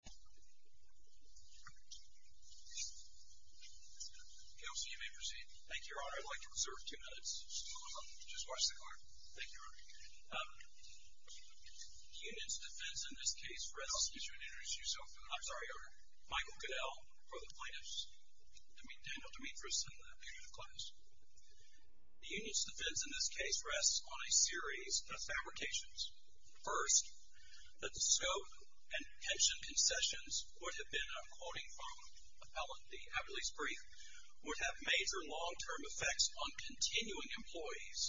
The union's defense in this case rests on a series of fabrications. First, that the scope and pension concessions would have been, and I'm quoting from Appellant D. Averly's brief, would have major long-term effects on continuing employees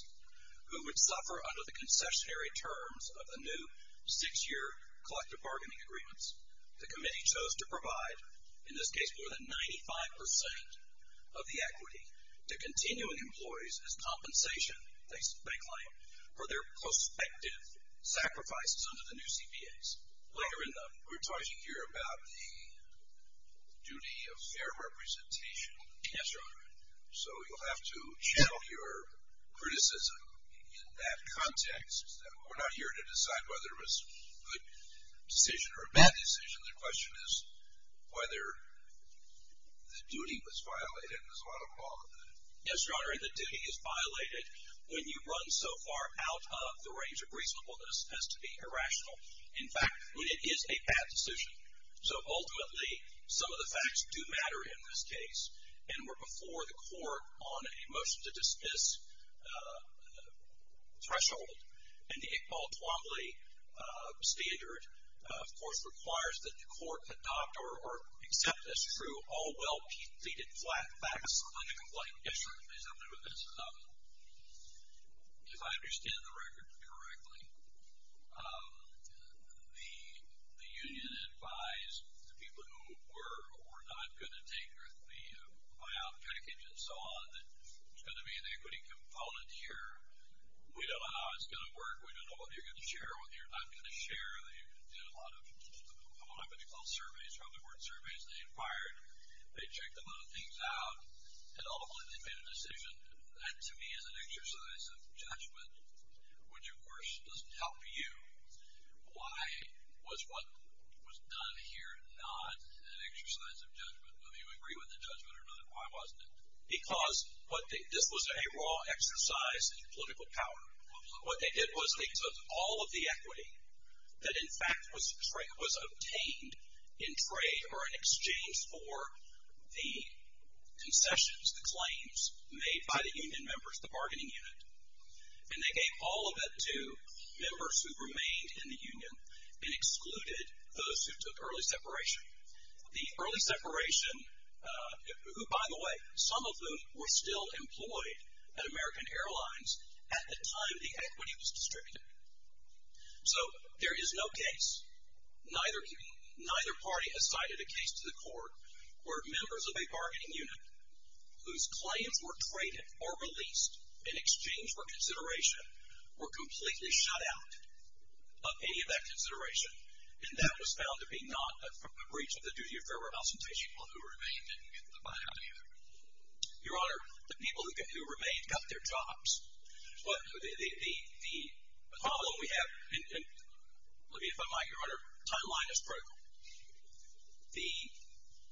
who would suffer under the concessionary terms of the new six-year collective bargaining agreements. The committee chose to provide, in this case, more than 95% of the equity to continuing employees as compensation, they claim, for their prospective sacrifices under the new CBAs. Later in the... We're talking here about the duty of fair representation. Yes, Your Honor. So, you'll have to channel your criticism in that context. We're not here to decide whether it was a good decision or a bad decision. The question is whether the duty was violated, and there's a lot of quality to that. Yes, Your Honor, and the duty is violated when you run so far out of the range of reasonableness as to be irrational. In fact, when it is a bad decision. So, ultimately, some of the facts do matter in this case, and we're before the court on a motion to dismiss threshold, and the Iqbal-Tuamly standard, of course, requires that the court adopt or accept as true all well pleaded facts. Yes, Your Honor, please help me with this. If I understand the record correctly, the union advised the people who were not going to take the buyout package and so on, that there's going to be an equity component here. We don't know how it's going to work. We don't know what you're going to share or what you're not going to share. They did a lot of, I don't know what I'm going to call it, surveys. Probably weren't surveys. They inquired. They checked a lot of things out, and ultimately, they made a decision that, to me, is an exercise of judgment, which, of course, doesn't help you. Why was what was done here not an exercise of judgment? I mean, we agree with the judgment or not, but why wasn't it? Because this was a raw exercise in political power. What they did was they took all of the equity that, in fact, was obtained in trade or in exchange for the concessions, the claims, made by the union members, the bargaining unit, and they gave all of it to members who remained in the union and excluded those who took early separation. The early separation, who, by the way, some of them were still employed at American Airlines at the time the equity was distributed. So there is no case, neither party has cited a case to the court where members of a bargaining unit whose claims were traded or released in exchange for consideration were completely shut out of any of that consideration, and that was found to be not a breach of the duty of fair representation. Well, who remained didn't get the buyout either. Your Honor, the people who remained got their jobs. The problem we have, and let me, if I might, Your Honor, timeline is critical.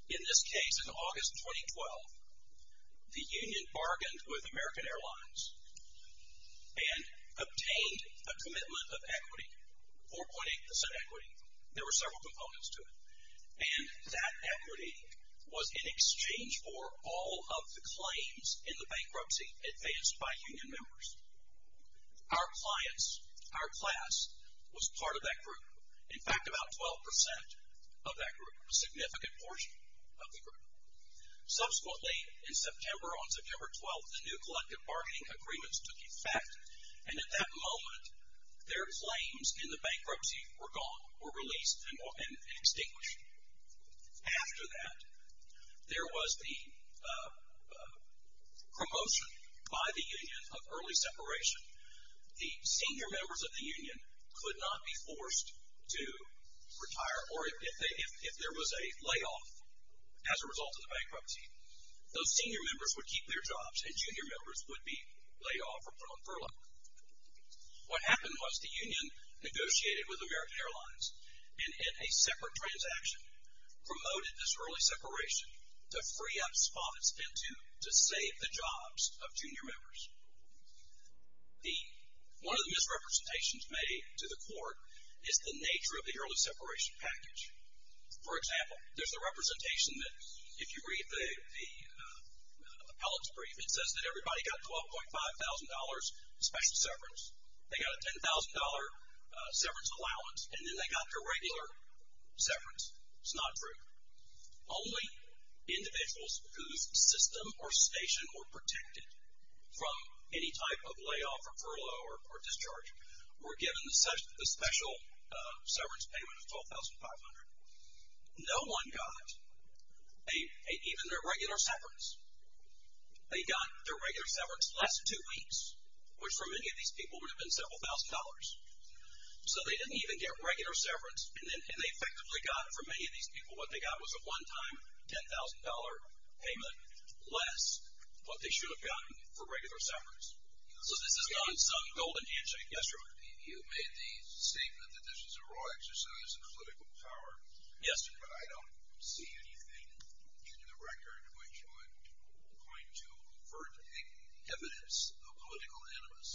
In this case, in August 2012, the union bargained with American Airlines and obtained a commitment of equity, 4.8% equity. There were several components to it. And that equity was in exchange for all of the claims in the bankruptcy advanced by union members. Our clients, our class, was part of that group. In fact, about 12% of that group, a significant portion of the group. Subsequently, in September, on September 12th, the new collective bargaining agreements took effect, and at that moment, their claims in the bankruptcy were gone, were released and extinguished. After that, there was the promotion by the union of early separation. The senior members of the union could not be forced to retire, or if there was a layoff as a result of the bankruptcy, those senior members would keep their jobs, and junior members would be laid off or put on furlough. What happened was the union negotiated with American Airlines and in a separate transaction promoted this early separation to free up spot it spent to to save the jobs of junior members. One of the misrepresentations made to the court is the nature of the early separation package. For example, there's a representation that if you read the appellate's brief, it says that everybody got $12,500 special severance, they got a $10,000 severance allowance, and then they got their regular severance. It's not true. Only individuals whose system or station were protected from any type of layoff or furlough or discharge were given the special severance payment of $12,500. No one got even their regular severance. They got their regular severance less than two weeks, which for many of these people would have been several thousand dollars. So they didn't even get regular severance, and they effectively got, for many of these people, what they got was a one-time $10,000 payment less than what they should have gotten for regular severance. So this is not some golden handshake. Yes, sir? You made the statement that this is a raw exercise of political power. Yes, sir. But I don't see anything in the record which would point to overt evidence of political animus.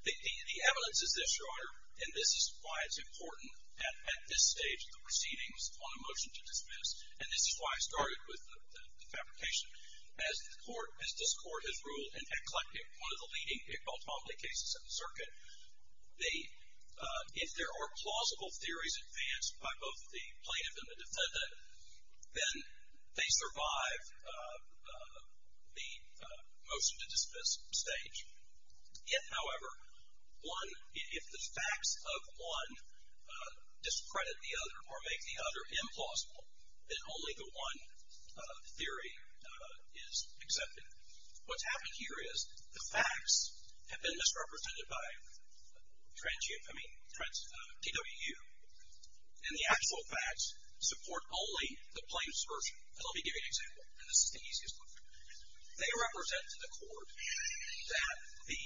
The evidence is this, Your Honor, and this is why it's important at this stage, the proceedings on a motion to dismiss. And this is why I started with the fabrication. As the court, as this court has ruled, in fact, collecting one of the leading Pickball-Tomley cases in the circuit, if there are plausible theories advanced by both the plaintiff and the defendant, then they survive the motion to dismiss stage. Yet, however, if the facts of one discredit the other or make the other implausible, then only the one theory is accepted. What's happened here is the facts have been misrepresented by DWU, and the actual facts support only the plaintiff's version. And let me give you an example, and this is the easiest one. They represent to the court that the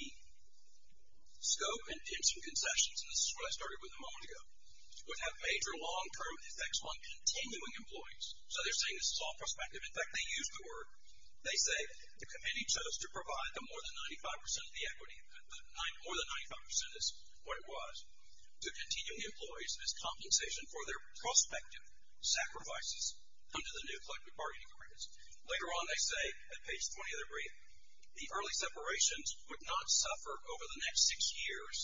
scope and intents of concessions, and this is what I started with a moment ago, would have major long-term effects on continuing employees. So they're saying this is all prospective. In fact, they used the word. They say the committee chose to provide the more than 95% of the equity, more than 95% is what it was, to continuing employees as compensation for their prospective sacrifices under the new collective bargaining agreements. Later on, they say, at page 20 of their brief, the early separations would not suffer over the next six years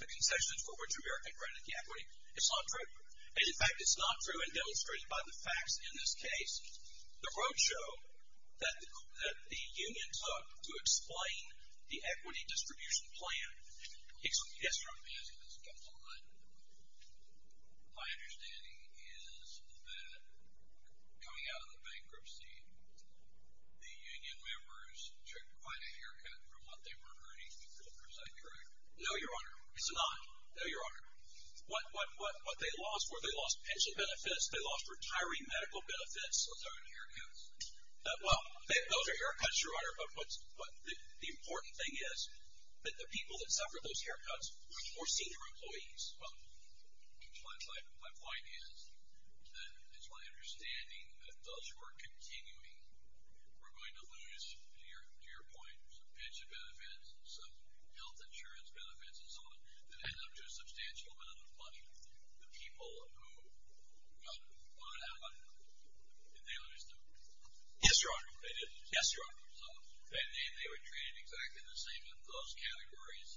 the concessions for which America granted the equity. It's not true. And in fact, it's not true, and demonstrated by the facts in this case. The votes show that the union took to explain the equity distribution plan. Yes, Your Honor. As this comes online, my understanding is that coming out of the bankruptcy, the union members took quite a haircut from what they were earning. Is that correct? No, Your Honor. It's not. No, Your Honor. What they lost were they lost pension benefits. They lost retiring medical benefits. Those aren't haircuts. Well, those are haircuts, Your Honor. But the important thing is that the people that suffered those haircuts were senior employees. Well, my point is that it's my understanding that those who are continuing are going to lose, to your point, some pension benefits and some health insurance benefits and so on. But the people who got what happened, did they lose them? Yes, Your Honor. They did? Yes, Your Honor. And they were treated exactly the same in those categories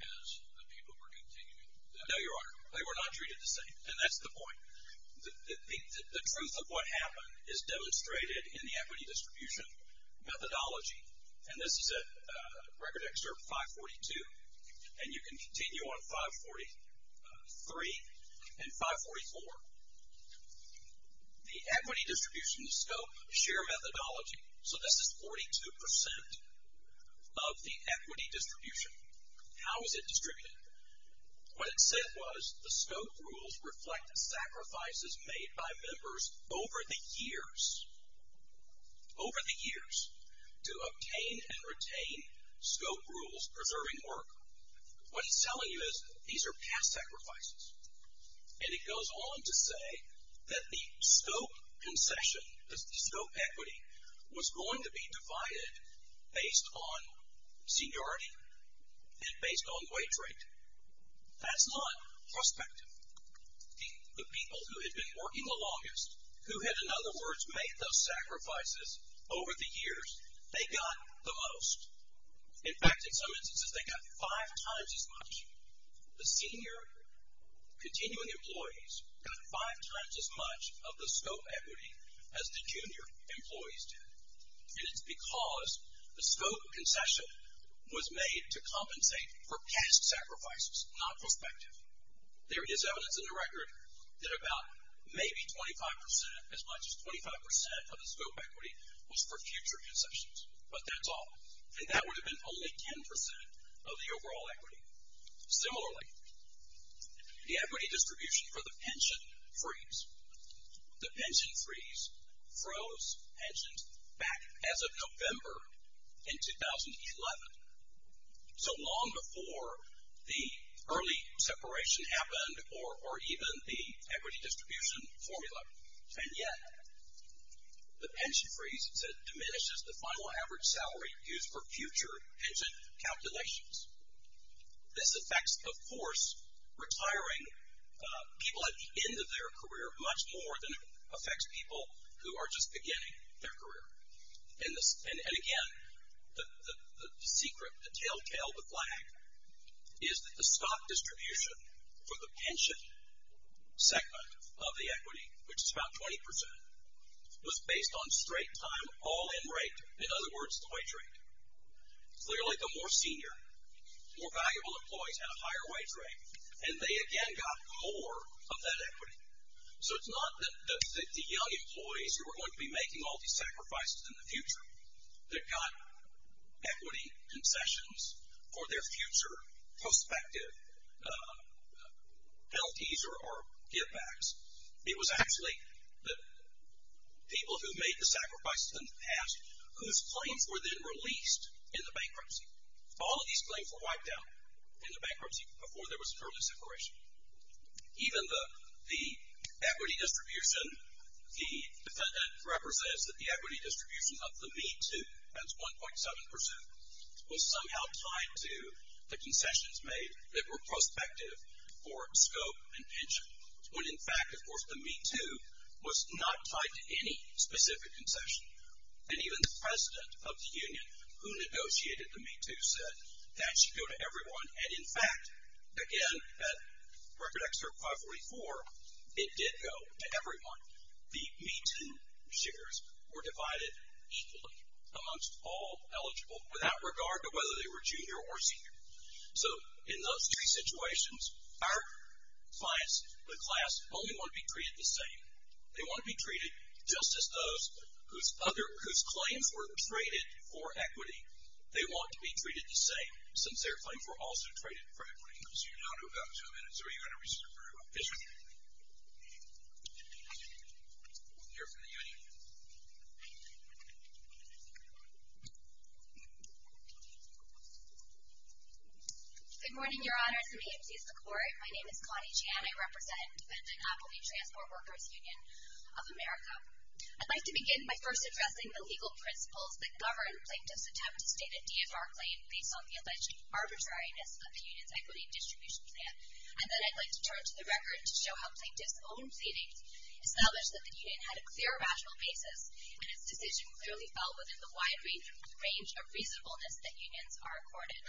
as the people who were continuing? No, Your Honor. They were not treated the same, and that's the point. The truth of what happened is demonstrated in the equity distribution methodology, and this is at Record Excerpt 542, and you can continue on 543 and 544. The equity distribution scope, share methodology, so this is 42% of the equity distribution. How is it distributed? What it said was the scope rules reflect sacrifices made by members over the years, over the years, to obtain and retain scope rules preserving work. What it's telling you is these are past sacrifices. And it goes on to say that the scope concession, the scope equity, was going to be divided based on seniority and based on wage rate. That's not prospective. The people who had been working the longest, who had, in other words, made those sacrifices over the years, they got the most. In fact, in some instances, they got five times as much. The senior continuing employees got five times as much of the scope equity as the junior employees did. And it's because the scope concession was made to compensate for past sacrifices, not prospective. There is evidence in the record that about maybe 25%, as much as 25% of the scope equity was for future concessions, but that's all. And that would have been only 10% of the overall equity. Similarly, the equity distribution for the pension freeze, the pension freeze froze pensions back as of November in 2011. So long before the early separation happened or even the equity distribution formula. And yet, the pension freeze diminishes the final average salary used for future pension calculations. This affects, of course, retiring people at the end of their career much more than it affects people who are just beginning their career. And again, the secret, the telltale, the flag is that the stock distribution for the pension segment of the equity, which is about 20%, was based on straight time, all in rate. In other words, the wage rate. Clearly, the more senior, more valuable employees had a higher wage rate. And they again got more of that equity. So it's not that the young employees who were going to be making all these sacrifices in the future that got equity concessions for their future prospective LTs or givebacks. It was actually the people who made the sacrifices in the past whose claims were then released in the bankruptcy. All of these claims were wiped out in the bankruptcy before there was an early separation. Even the equity distribution, the defendant represents that the equity distribution of the Me Too, that's 1.7%, was somehow tied to the concessions made that were prospective for scope and pension. When in fact, of course, the Me Too was not tied to any specific concession. And even the president of the union who negotiated the Me Too said that should go to everyone. And in fact, again, at Record Excerpt 544, it did go to everyone. The Me Too shares were divided equally amongst all eligible without regard to whether they were junior or senior. So in those three situations, our clients, the class, only want to be treated the same. They want to be treated just as those whose claims were traded for equity. They want to be treated the same, since their claims were also traded for equity. So you're down to about two minutes. Are you going to resume? Yes, ma'am. We'll hear from the union. Good morning, Your Honors, and may it please the Court. My name is Connie Chan. I represent Defendant Appletree Transport Workers Union of America. I'd like to begin by first addressing the legal principles that govern plaintiffs' attempt to state a DFR claim based on the alleged arbitrariness of the union's equity distribution plan. And then I'd like to turn to the record to show how plaintiffs' own pleadings established that the union had a clear rational basis, and its decision clearly fell within the wide range of reasonableness that unions are accorded.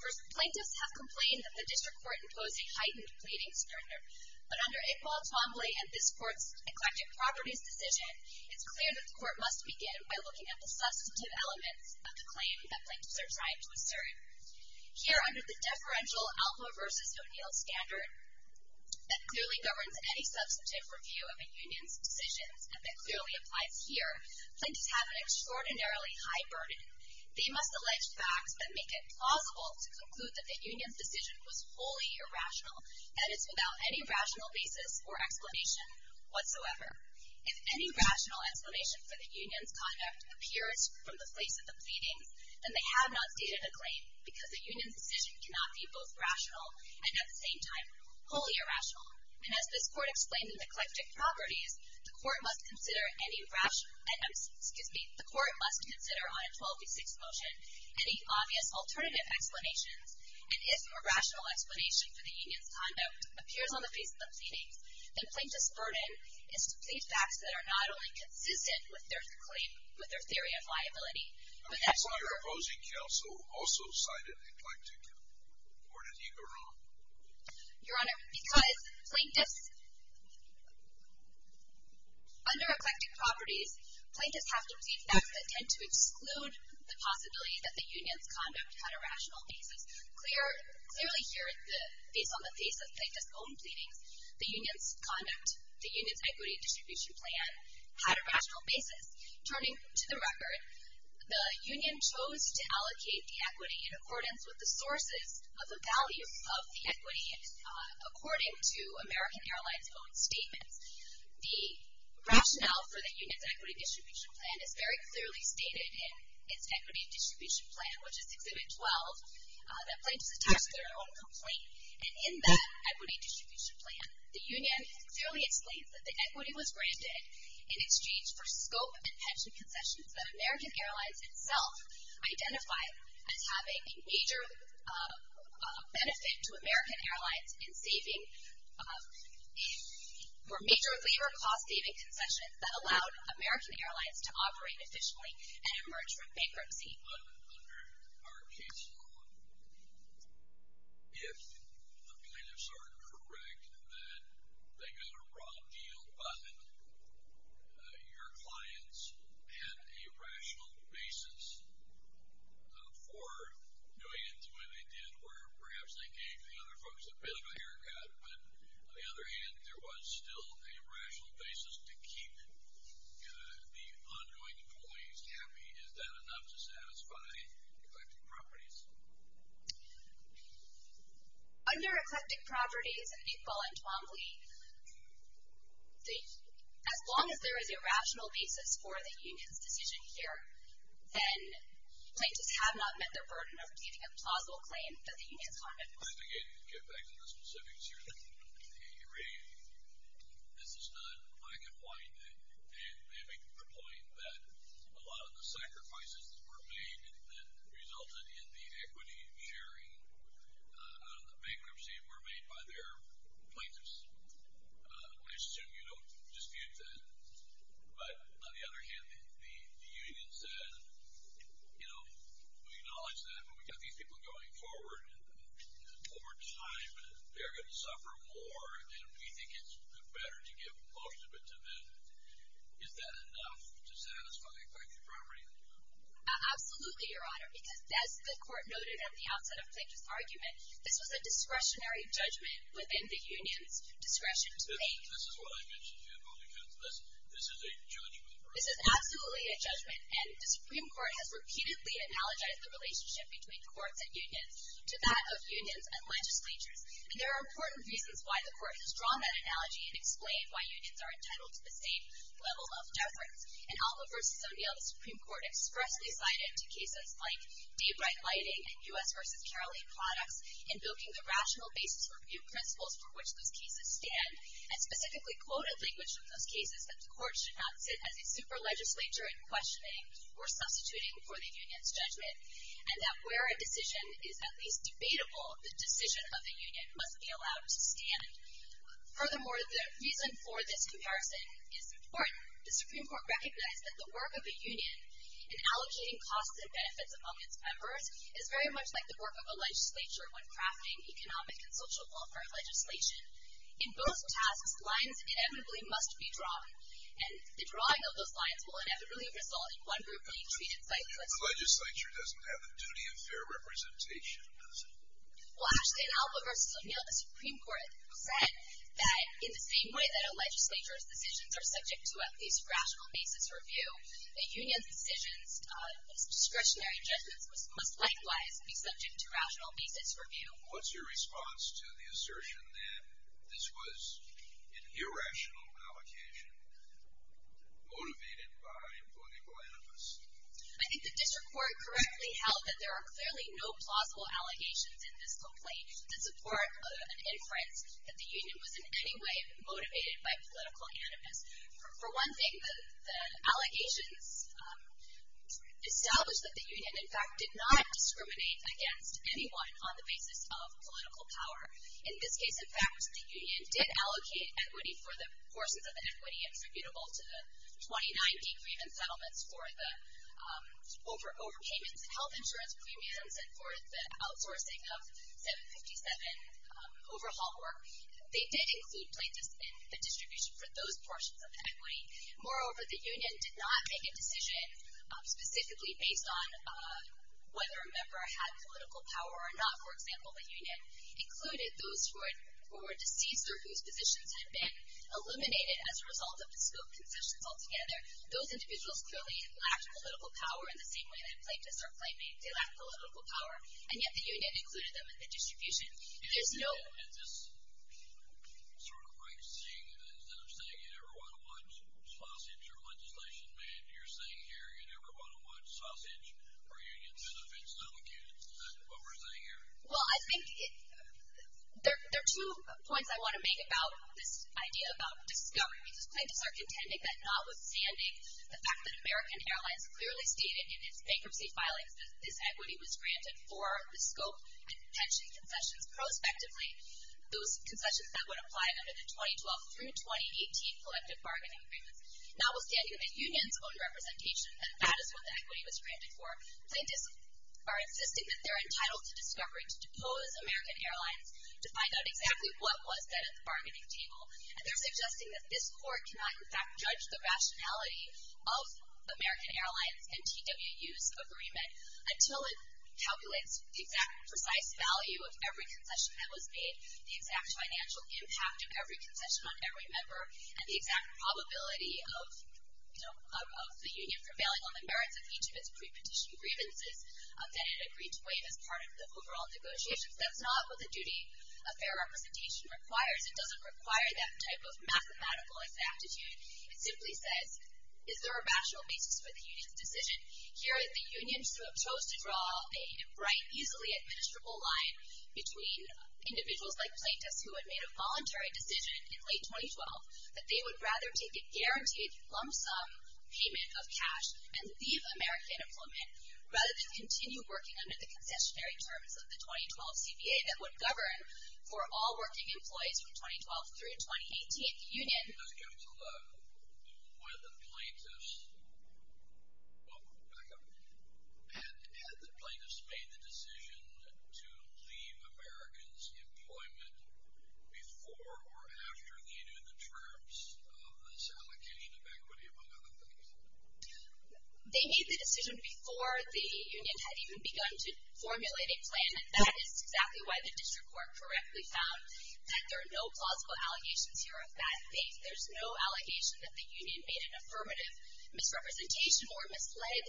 First, plaintiffs have complained that the district court imposed a heightened pleading standard. But under Iqbal Twombly and this court's eclectic properties decision, it's clear that the court must begin by looking at the substantive elements of the claim that plaintiffs are trying to assert. Here, under the deferential Alpha v. O'Neill standard that clearly governs any substantive review of a union's decisions, and that clearly applies here, plaintiffs have an extraordinarily high burden. They must allege facts that make it plausible to conclude that the union's decision was wholly irrational, and it's without any rational basis or explanation whatsoever. If any rational explanation for the union's conduct appears from the place of the pleadings, then they have not stated a claim because the union's decision cannot be both rational and at the same time wholly irrational. And as this court explained in the eclectic properties, the court must consider on a 12 v. 6 motion any obvious alternative explanations, and if a rational explanation for the union's conduct appears on the face of the pleadings, then plaintiffs' burden is to plead facts that are not only consistent with their claim, with their theory of liability, but that are true. Your opposing counsel also cited eclectic. Where did he go wrong? Your Honor, because plaintiffs, under eclectic properties, plaintiffs have to plead facts that tend to exclude the possibility that the union's conduct had a rational basis. Clearly here, based on the face of plaintiffs' own pleadings, the union's equity distribution plan had a rational basis. Turning to the record, the union chose to allocate the equity in accordance with the sources of the value of the equity, according to American Airlines' own statements. The rationale for the union's equity distribution plan is very clearly stated in its equity distribution plan, which is excluded 12, that plaintiffs attach to their own complaint. And in that equity distribution plan, the union clearly explains that the equity was granted in exchange for scope and pension concessions that American Airlines itself identified as having a major benefit to American Airlines in saving for major labor cost saving concessions that allowed American Airlines to operate efficiently and emerge from bankruptcy. But under our case law, if the plaintiffs are correct that they got a wrong deal, but your clients had a rational basis for doing it the way they did, where perhaps they gave the other folks a bit of a haircut, but on the other hand, there was still a rational basis to keep the ongoing employees happy, is that enough to satisfy eclectic properties? Under eclectic properties, as long as there is a rational basis for the union's decision here, then plaintiffs have not met their burden of giving a plausible claim that the union has harmed it. I think I need to get back to the specifics here that you raised. This is not black and white, and maybe to the point that a lot of the sacrifices that were made that resulted in the equity sharing out of the bankruptcy were made by their plaintiffs. I assume you don't dispute that. But on the other hand, the union said, you know, we acknowledge that, but we've got these people going forward, and over time, they're going to suffer more, and we think it's better to give most of it to them. Is that enough to satisfy eclectic property? Absolutely, Your Honor, because as the court noted at the outset of Plaintiff's argument, this was a discretionary judgment within the union's discretion to make. This is what I mentioned to you about the court's lesson. This is a judgment. This is absolutely a judgment, and the Supreme Court has repeatedly analogized the relationship between courts and unions to that of unions and legislatures. And there are important reasons why the court has drawn that analogy and explained why unions are entitled to the same level of deference. In Alma v. O'Neill, the Supreme Court expressly cited cases like Daybright Lighting and U.S. v. Carly products invoking the rational basis review principles for which those cases stand and specifically quoted language from those cases that the court should not sit as a super legislature in questioning or substituting for the union's judgment and that where a decision is at least debatable, the decision of the union must be allowed to stand. Furthermore, the reason for this comparison is important. The Supreme Court recognized that the work of a union in allocating costs and benefits among its members is very much like the work of a legislature when crafting economic and social welfare legislation. In both tasks, lines inevitably must be drawn, and the drawing of those lines will inevitably result in one grouply treated cycle. A legislature doesn't have the duty of fair representation. Well, actually, in Alma v. O'Neill, the Supreme Court said that, in the same way that a legislature's decisions are subject to at least a rational basis review, a union's decisions of discretionary judgments must likewise be subject to rational basis review. What's your response to the assertion that this was an irrational allocation motivated by political animus? I think the district court correctly held that there are clearly no plausible allegations in this complaint that support an inference that the union was in any way motivated by political animus. For one thing, the allegations establish that the union, in fact, did not discriminate against anyone on the basis of political power. In this case, in fact, the union did allocate equity for the portions of the equity attributable to the 29 decrement settlements for the overpayments, health insurance premiums, and for the outsourcing of 757 overhaul work. They did include plaintiffs in the distribution for those portions of the equity. Moreover, the union did not make a decision specifically based on whether a member had political power or not. For example, the union included those who were deceased or whose positions had been eliminated as a result of the scope concessions altogether. Those individuals clearly lacked political power in the same way that plaintiffs are claiming they lack political power, and yet the union included them in the distribution. Is this sort of like saying that instead of saying you never want to watch sausage or legislation, man, you're saying here you never want to watch sausage or unions, and if it's not the case, is that what we're saying here? Well, I think there are two points I want to make about this idea about discovery. Plaintiffs are contending that notwithstanding the fact that American Airlines clearly stated in its bankruptcy filings that this equity was granted for the scope and pension concessions prospectively, those concessions that would apply under the 2012 through 2018 collective bargaining agreements, notwithstanding the union's own representation that that is what the equity was granted for, plaintiffs are insisting that they're entitled to discovery to depose American Airlines to find out exactly what was said at the bargaining table. And they're suggesting that this court cannot, in fact, judge the rationality of American Airlines and TWU's agreement until it calculates the exact precise value of every concession that was made, the exact financial impact of every concession on every member, and the exact probability of the union prevailing on the merits of each of its prepetition grievances that it agreed to waive as part of the overall negotiations. That's not what the duty of fair representation requires. It doesn't require that type of mathematical exactitude. It simply says, is there a rational basis for the union's decision? Here, the union chose to draw a bright, easily administrable line between individuals like plaintiffs who had made a voluntary decision in late 2012 that they would rather take a guaranteed lump sum payment of cash and leave American employment rather than continue working under the concessionary terms of the 2012 CBA that would govern for all working employees from 2012 through 2018. The union... Let's get to the... Had the plaintiffs made the decision to leave Americans' employment before or after the end of the terms of this allocation of equity, among other things? They made the decision before the union had even begun to formulate a plan, and that is exactly why the district court correctly found that there are no plausible allegations here of bad faith. There's no allegation that the union made an affirmative misrepresentation or misled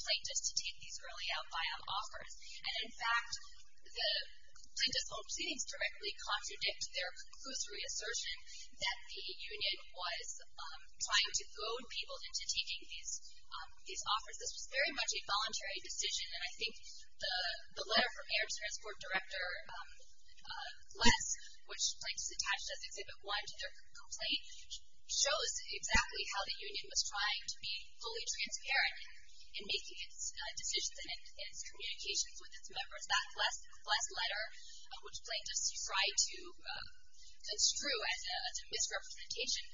plaintiffs to take these early out buyout offers. And, in fact, the plaintiff's own proceedings directly contradict their conclusory assertion that the union was trying to goad people into taking these offers. This was very much a voluntary decision, and I think the letter from Air and Transport Director Less, which plaintiffs attached as Exhibit 1 to their complaint, shows exactly how the union was trying to be fully transparent in making its decisions and its communications with its members. That Less letter, which plaintiffs tried to construe as a misrepresentation,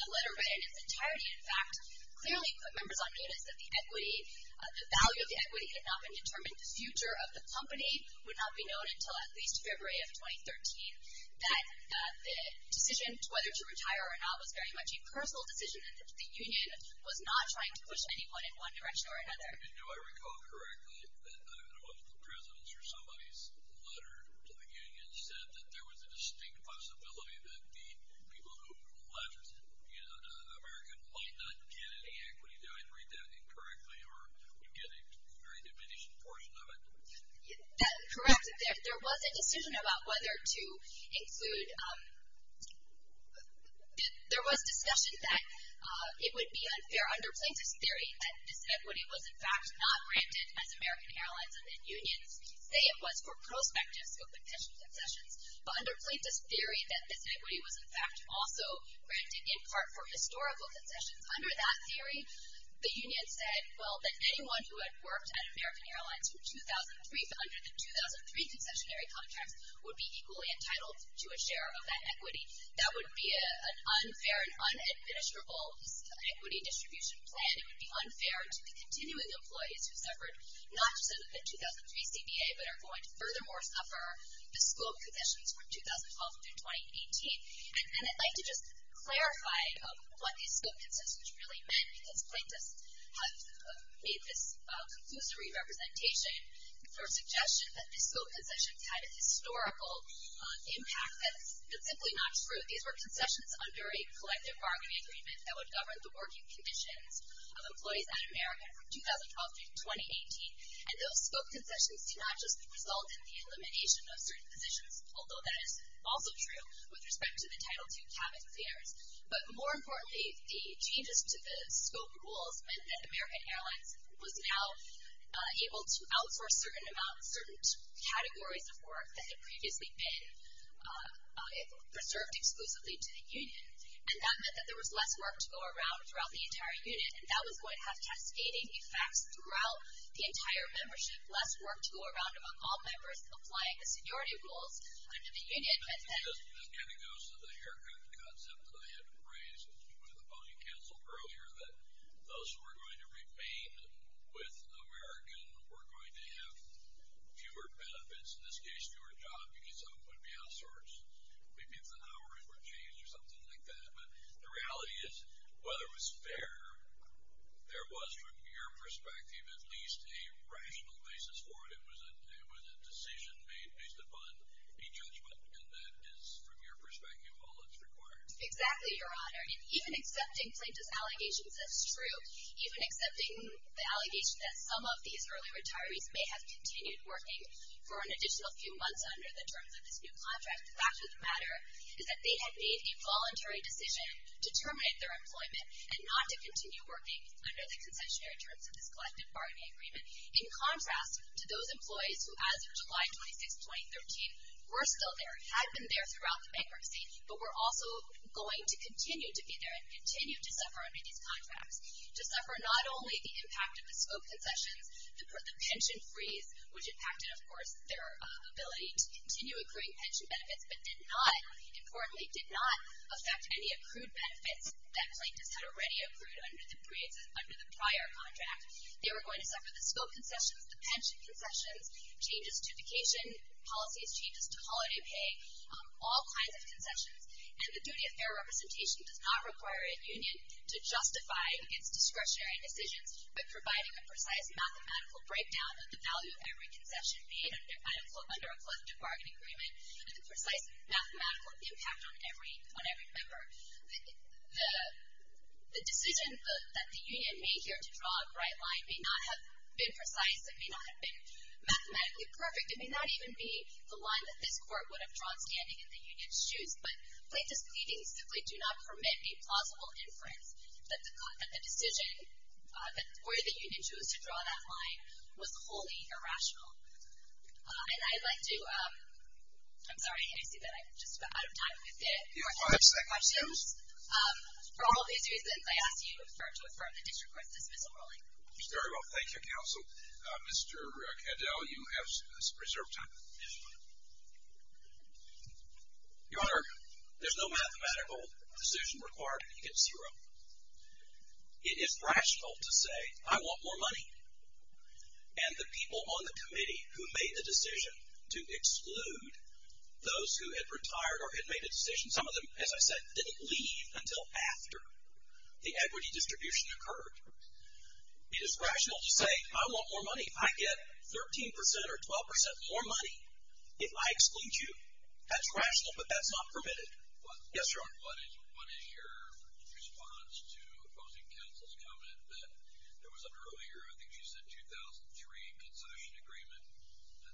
the letter read in its entirety, in fact, clearly put members on notice that the value of the equity had not been determined, the future of the company would not be known until at least February of 2013, that the decision whether to retire or not was very much a personal decision and that the union was not trying to push anyone in one direction or another. And do I recall correctly that one of the presidents or somebody's letter to the union said that there was a distinct possibility that the people who left America might not get any equity? Did I read that incorrectly, or did you get a very diminished portion of it? That's correct. There was a decision about whether to include, there was discussion that it would be unfair under plaintiffs' theory that this equity was, in fact, not granted as American Airlines and then unions say it was for prospectives of potential concessions, but under plaintiffs' theory that this equity was, in fact, also granted in part for historical concessions. Under that theory, the union said, well, that anyone who had worked at American Airlines from 2003 to under the 2003 concessionary contracts would be equally entitled to a share of that equity. That would be an unfair and unadministrable equity distribution plan. It would be unfair to the continuing employees who suffered not just a 2003 CBA, but are going to furthermore suffer the scope of concessions from 2012 through 2018. And I'd like to just clarify what these scope concessions really meant, because plaintiffs have made this conclusory representation for a suggestion that these scope concessions had a historical impact. That's simply not true. These were concessions under a collective bargaining agreement that would govern the working conditions of employees at American from 2012 through 2018. And those scope concessions do not just result in the elimination of certain positions, although that is also true with respect to the Title II cabin cleaners. But more importantly, the changes to the scope rules meant that American Airlines was now able to outsource certain categories of work that had previously been preserved exclusively to the union. And that meant that there was less work to go around throughout the entire unit, and that was going to have cascading effects throughout the entire membership, less work to go around among all members applying the seniority rules under the union. That kind of goes to the haircut concept that I had raised with opposing counsel earlier, that those who were going to remain with American were going to have fewer benefits, in this case fewer jobs, because some of them would be outsourced. Maybe if the hours were changed or something like that. But the reality is, whether it was fair, there was, from your perspective, at least a rational basis for it. It was a decision made based upon a judgment, and that is, from your perspective, all that's required. Exactly, Your Honor. And even accepting Plaintiff's allegations, that's true. Even accepting the allegation that some of these early retirees may have continued working for an additional few months under the terms of this new contract, the fact of the matter is that they had made a voluntary decision to terminate their employment and not to continue working under the concessionary terms of this collective bargaining agreement, in contrast to those employees who, as of July 26, 2013, were still there, had been there throughout the bankruptcy, but were also going to continue to be there and continue to suffer under these contracts. To suffer not only the impact of the scope concessions, the pension freeze, which impacted, of course, their ability to continue accruing pension benefits, but did not, importantly, did not affect any accrued benefits that Plaintiffs had already accrued under the prior contract. They were going to suffer the scope concessions, the pension concessions, changes to vacation policies, changes to holiday pay, all kinds of concessions. And the duty of fair representation does not require a union to justify its discretionary decisions by providing a precise mathematical breakdown of the value of every concession made under a collective bargaining agreement and the precise mathematical impact on every member. The decision that the union made here to draw a bright line may not have been precise. It may not have been mathematically perfect. It may not even be the line that this Court would have drawn standing in the union's shoes. But Plaintiffs' pleadings simply do not permit any plausible inference that the decision or that the union chose to draw that line was wholly irrational. And I'd like to, I'm sorry, I see that I'm just about out of time. We have five seconds. For all these reasons, I ask that you refer to the District Court's dismissal ruling. Very well. Thank you, Counsel. Mr. Kandel, you have reserve time. Your Honor, there's no mathematical decision required to get zero. It is rational to say, I want more money. And the people on the committee who made the decision to exclude those who had retired or had made a decision, some of them, as I said, didn't leave until after the equity distribution occurred. It is rational to say, I want more money. I get 13% or 12% more money if I exclude you. That's rational, but that's not permitted. Yes, Your Honor. What is your response to opposing Counsel's comment that there was an earlier, I think she said 2003, concession agreement,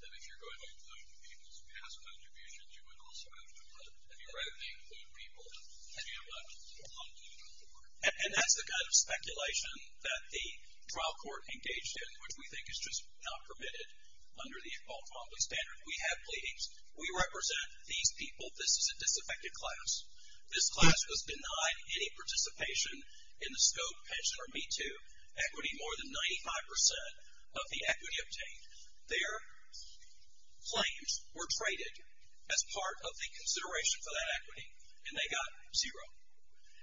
that if you're going to include people's past contributions, you would also have to include, I mean, rather than include people that you have not wanted to include before. And that's the kind of speculation that the trial court engaged in, which we think is just not permitted under the Baltimore public standard. We have pleadings. We represent these people. This is a disaffected class. This class was denied any participation in the SCOPE pension or Me Too equity. More than 95% of the equity obtained. Their claims were traded as part of the consideration for that equity, and they got zero.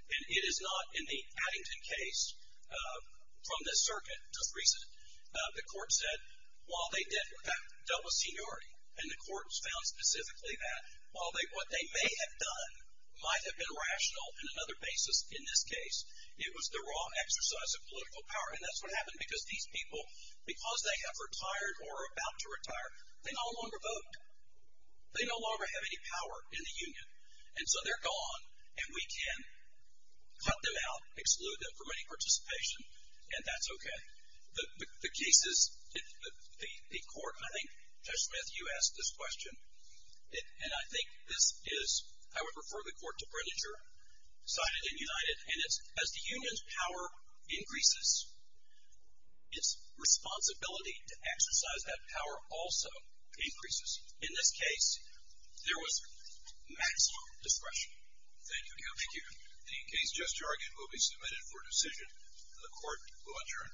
And it is not in the Addington case, from this circuit, just recent, the court said while they dealt with seniority, and the court found specifically that, while what they may have done might have been rational in another basis in this case, it was the raw exercise of political power. And that's what happened because these people, because they have retired or are about to retire, they no longer vote. They no longer have any power in the union. And so they're gone, and we can cut them out, exclude them from any participation, and that's okay. The cases, the court, and I think, Judge Smith, you asked this question, and I think this is, I would refer the court to Bredinger, sided and united, and it's as the union's power increases, its responsibility to exercise that power also increases. In this case, there was maximum discretion. Thank you. Thank you. The case just argued will be submitted for decision, and the court will adjourn.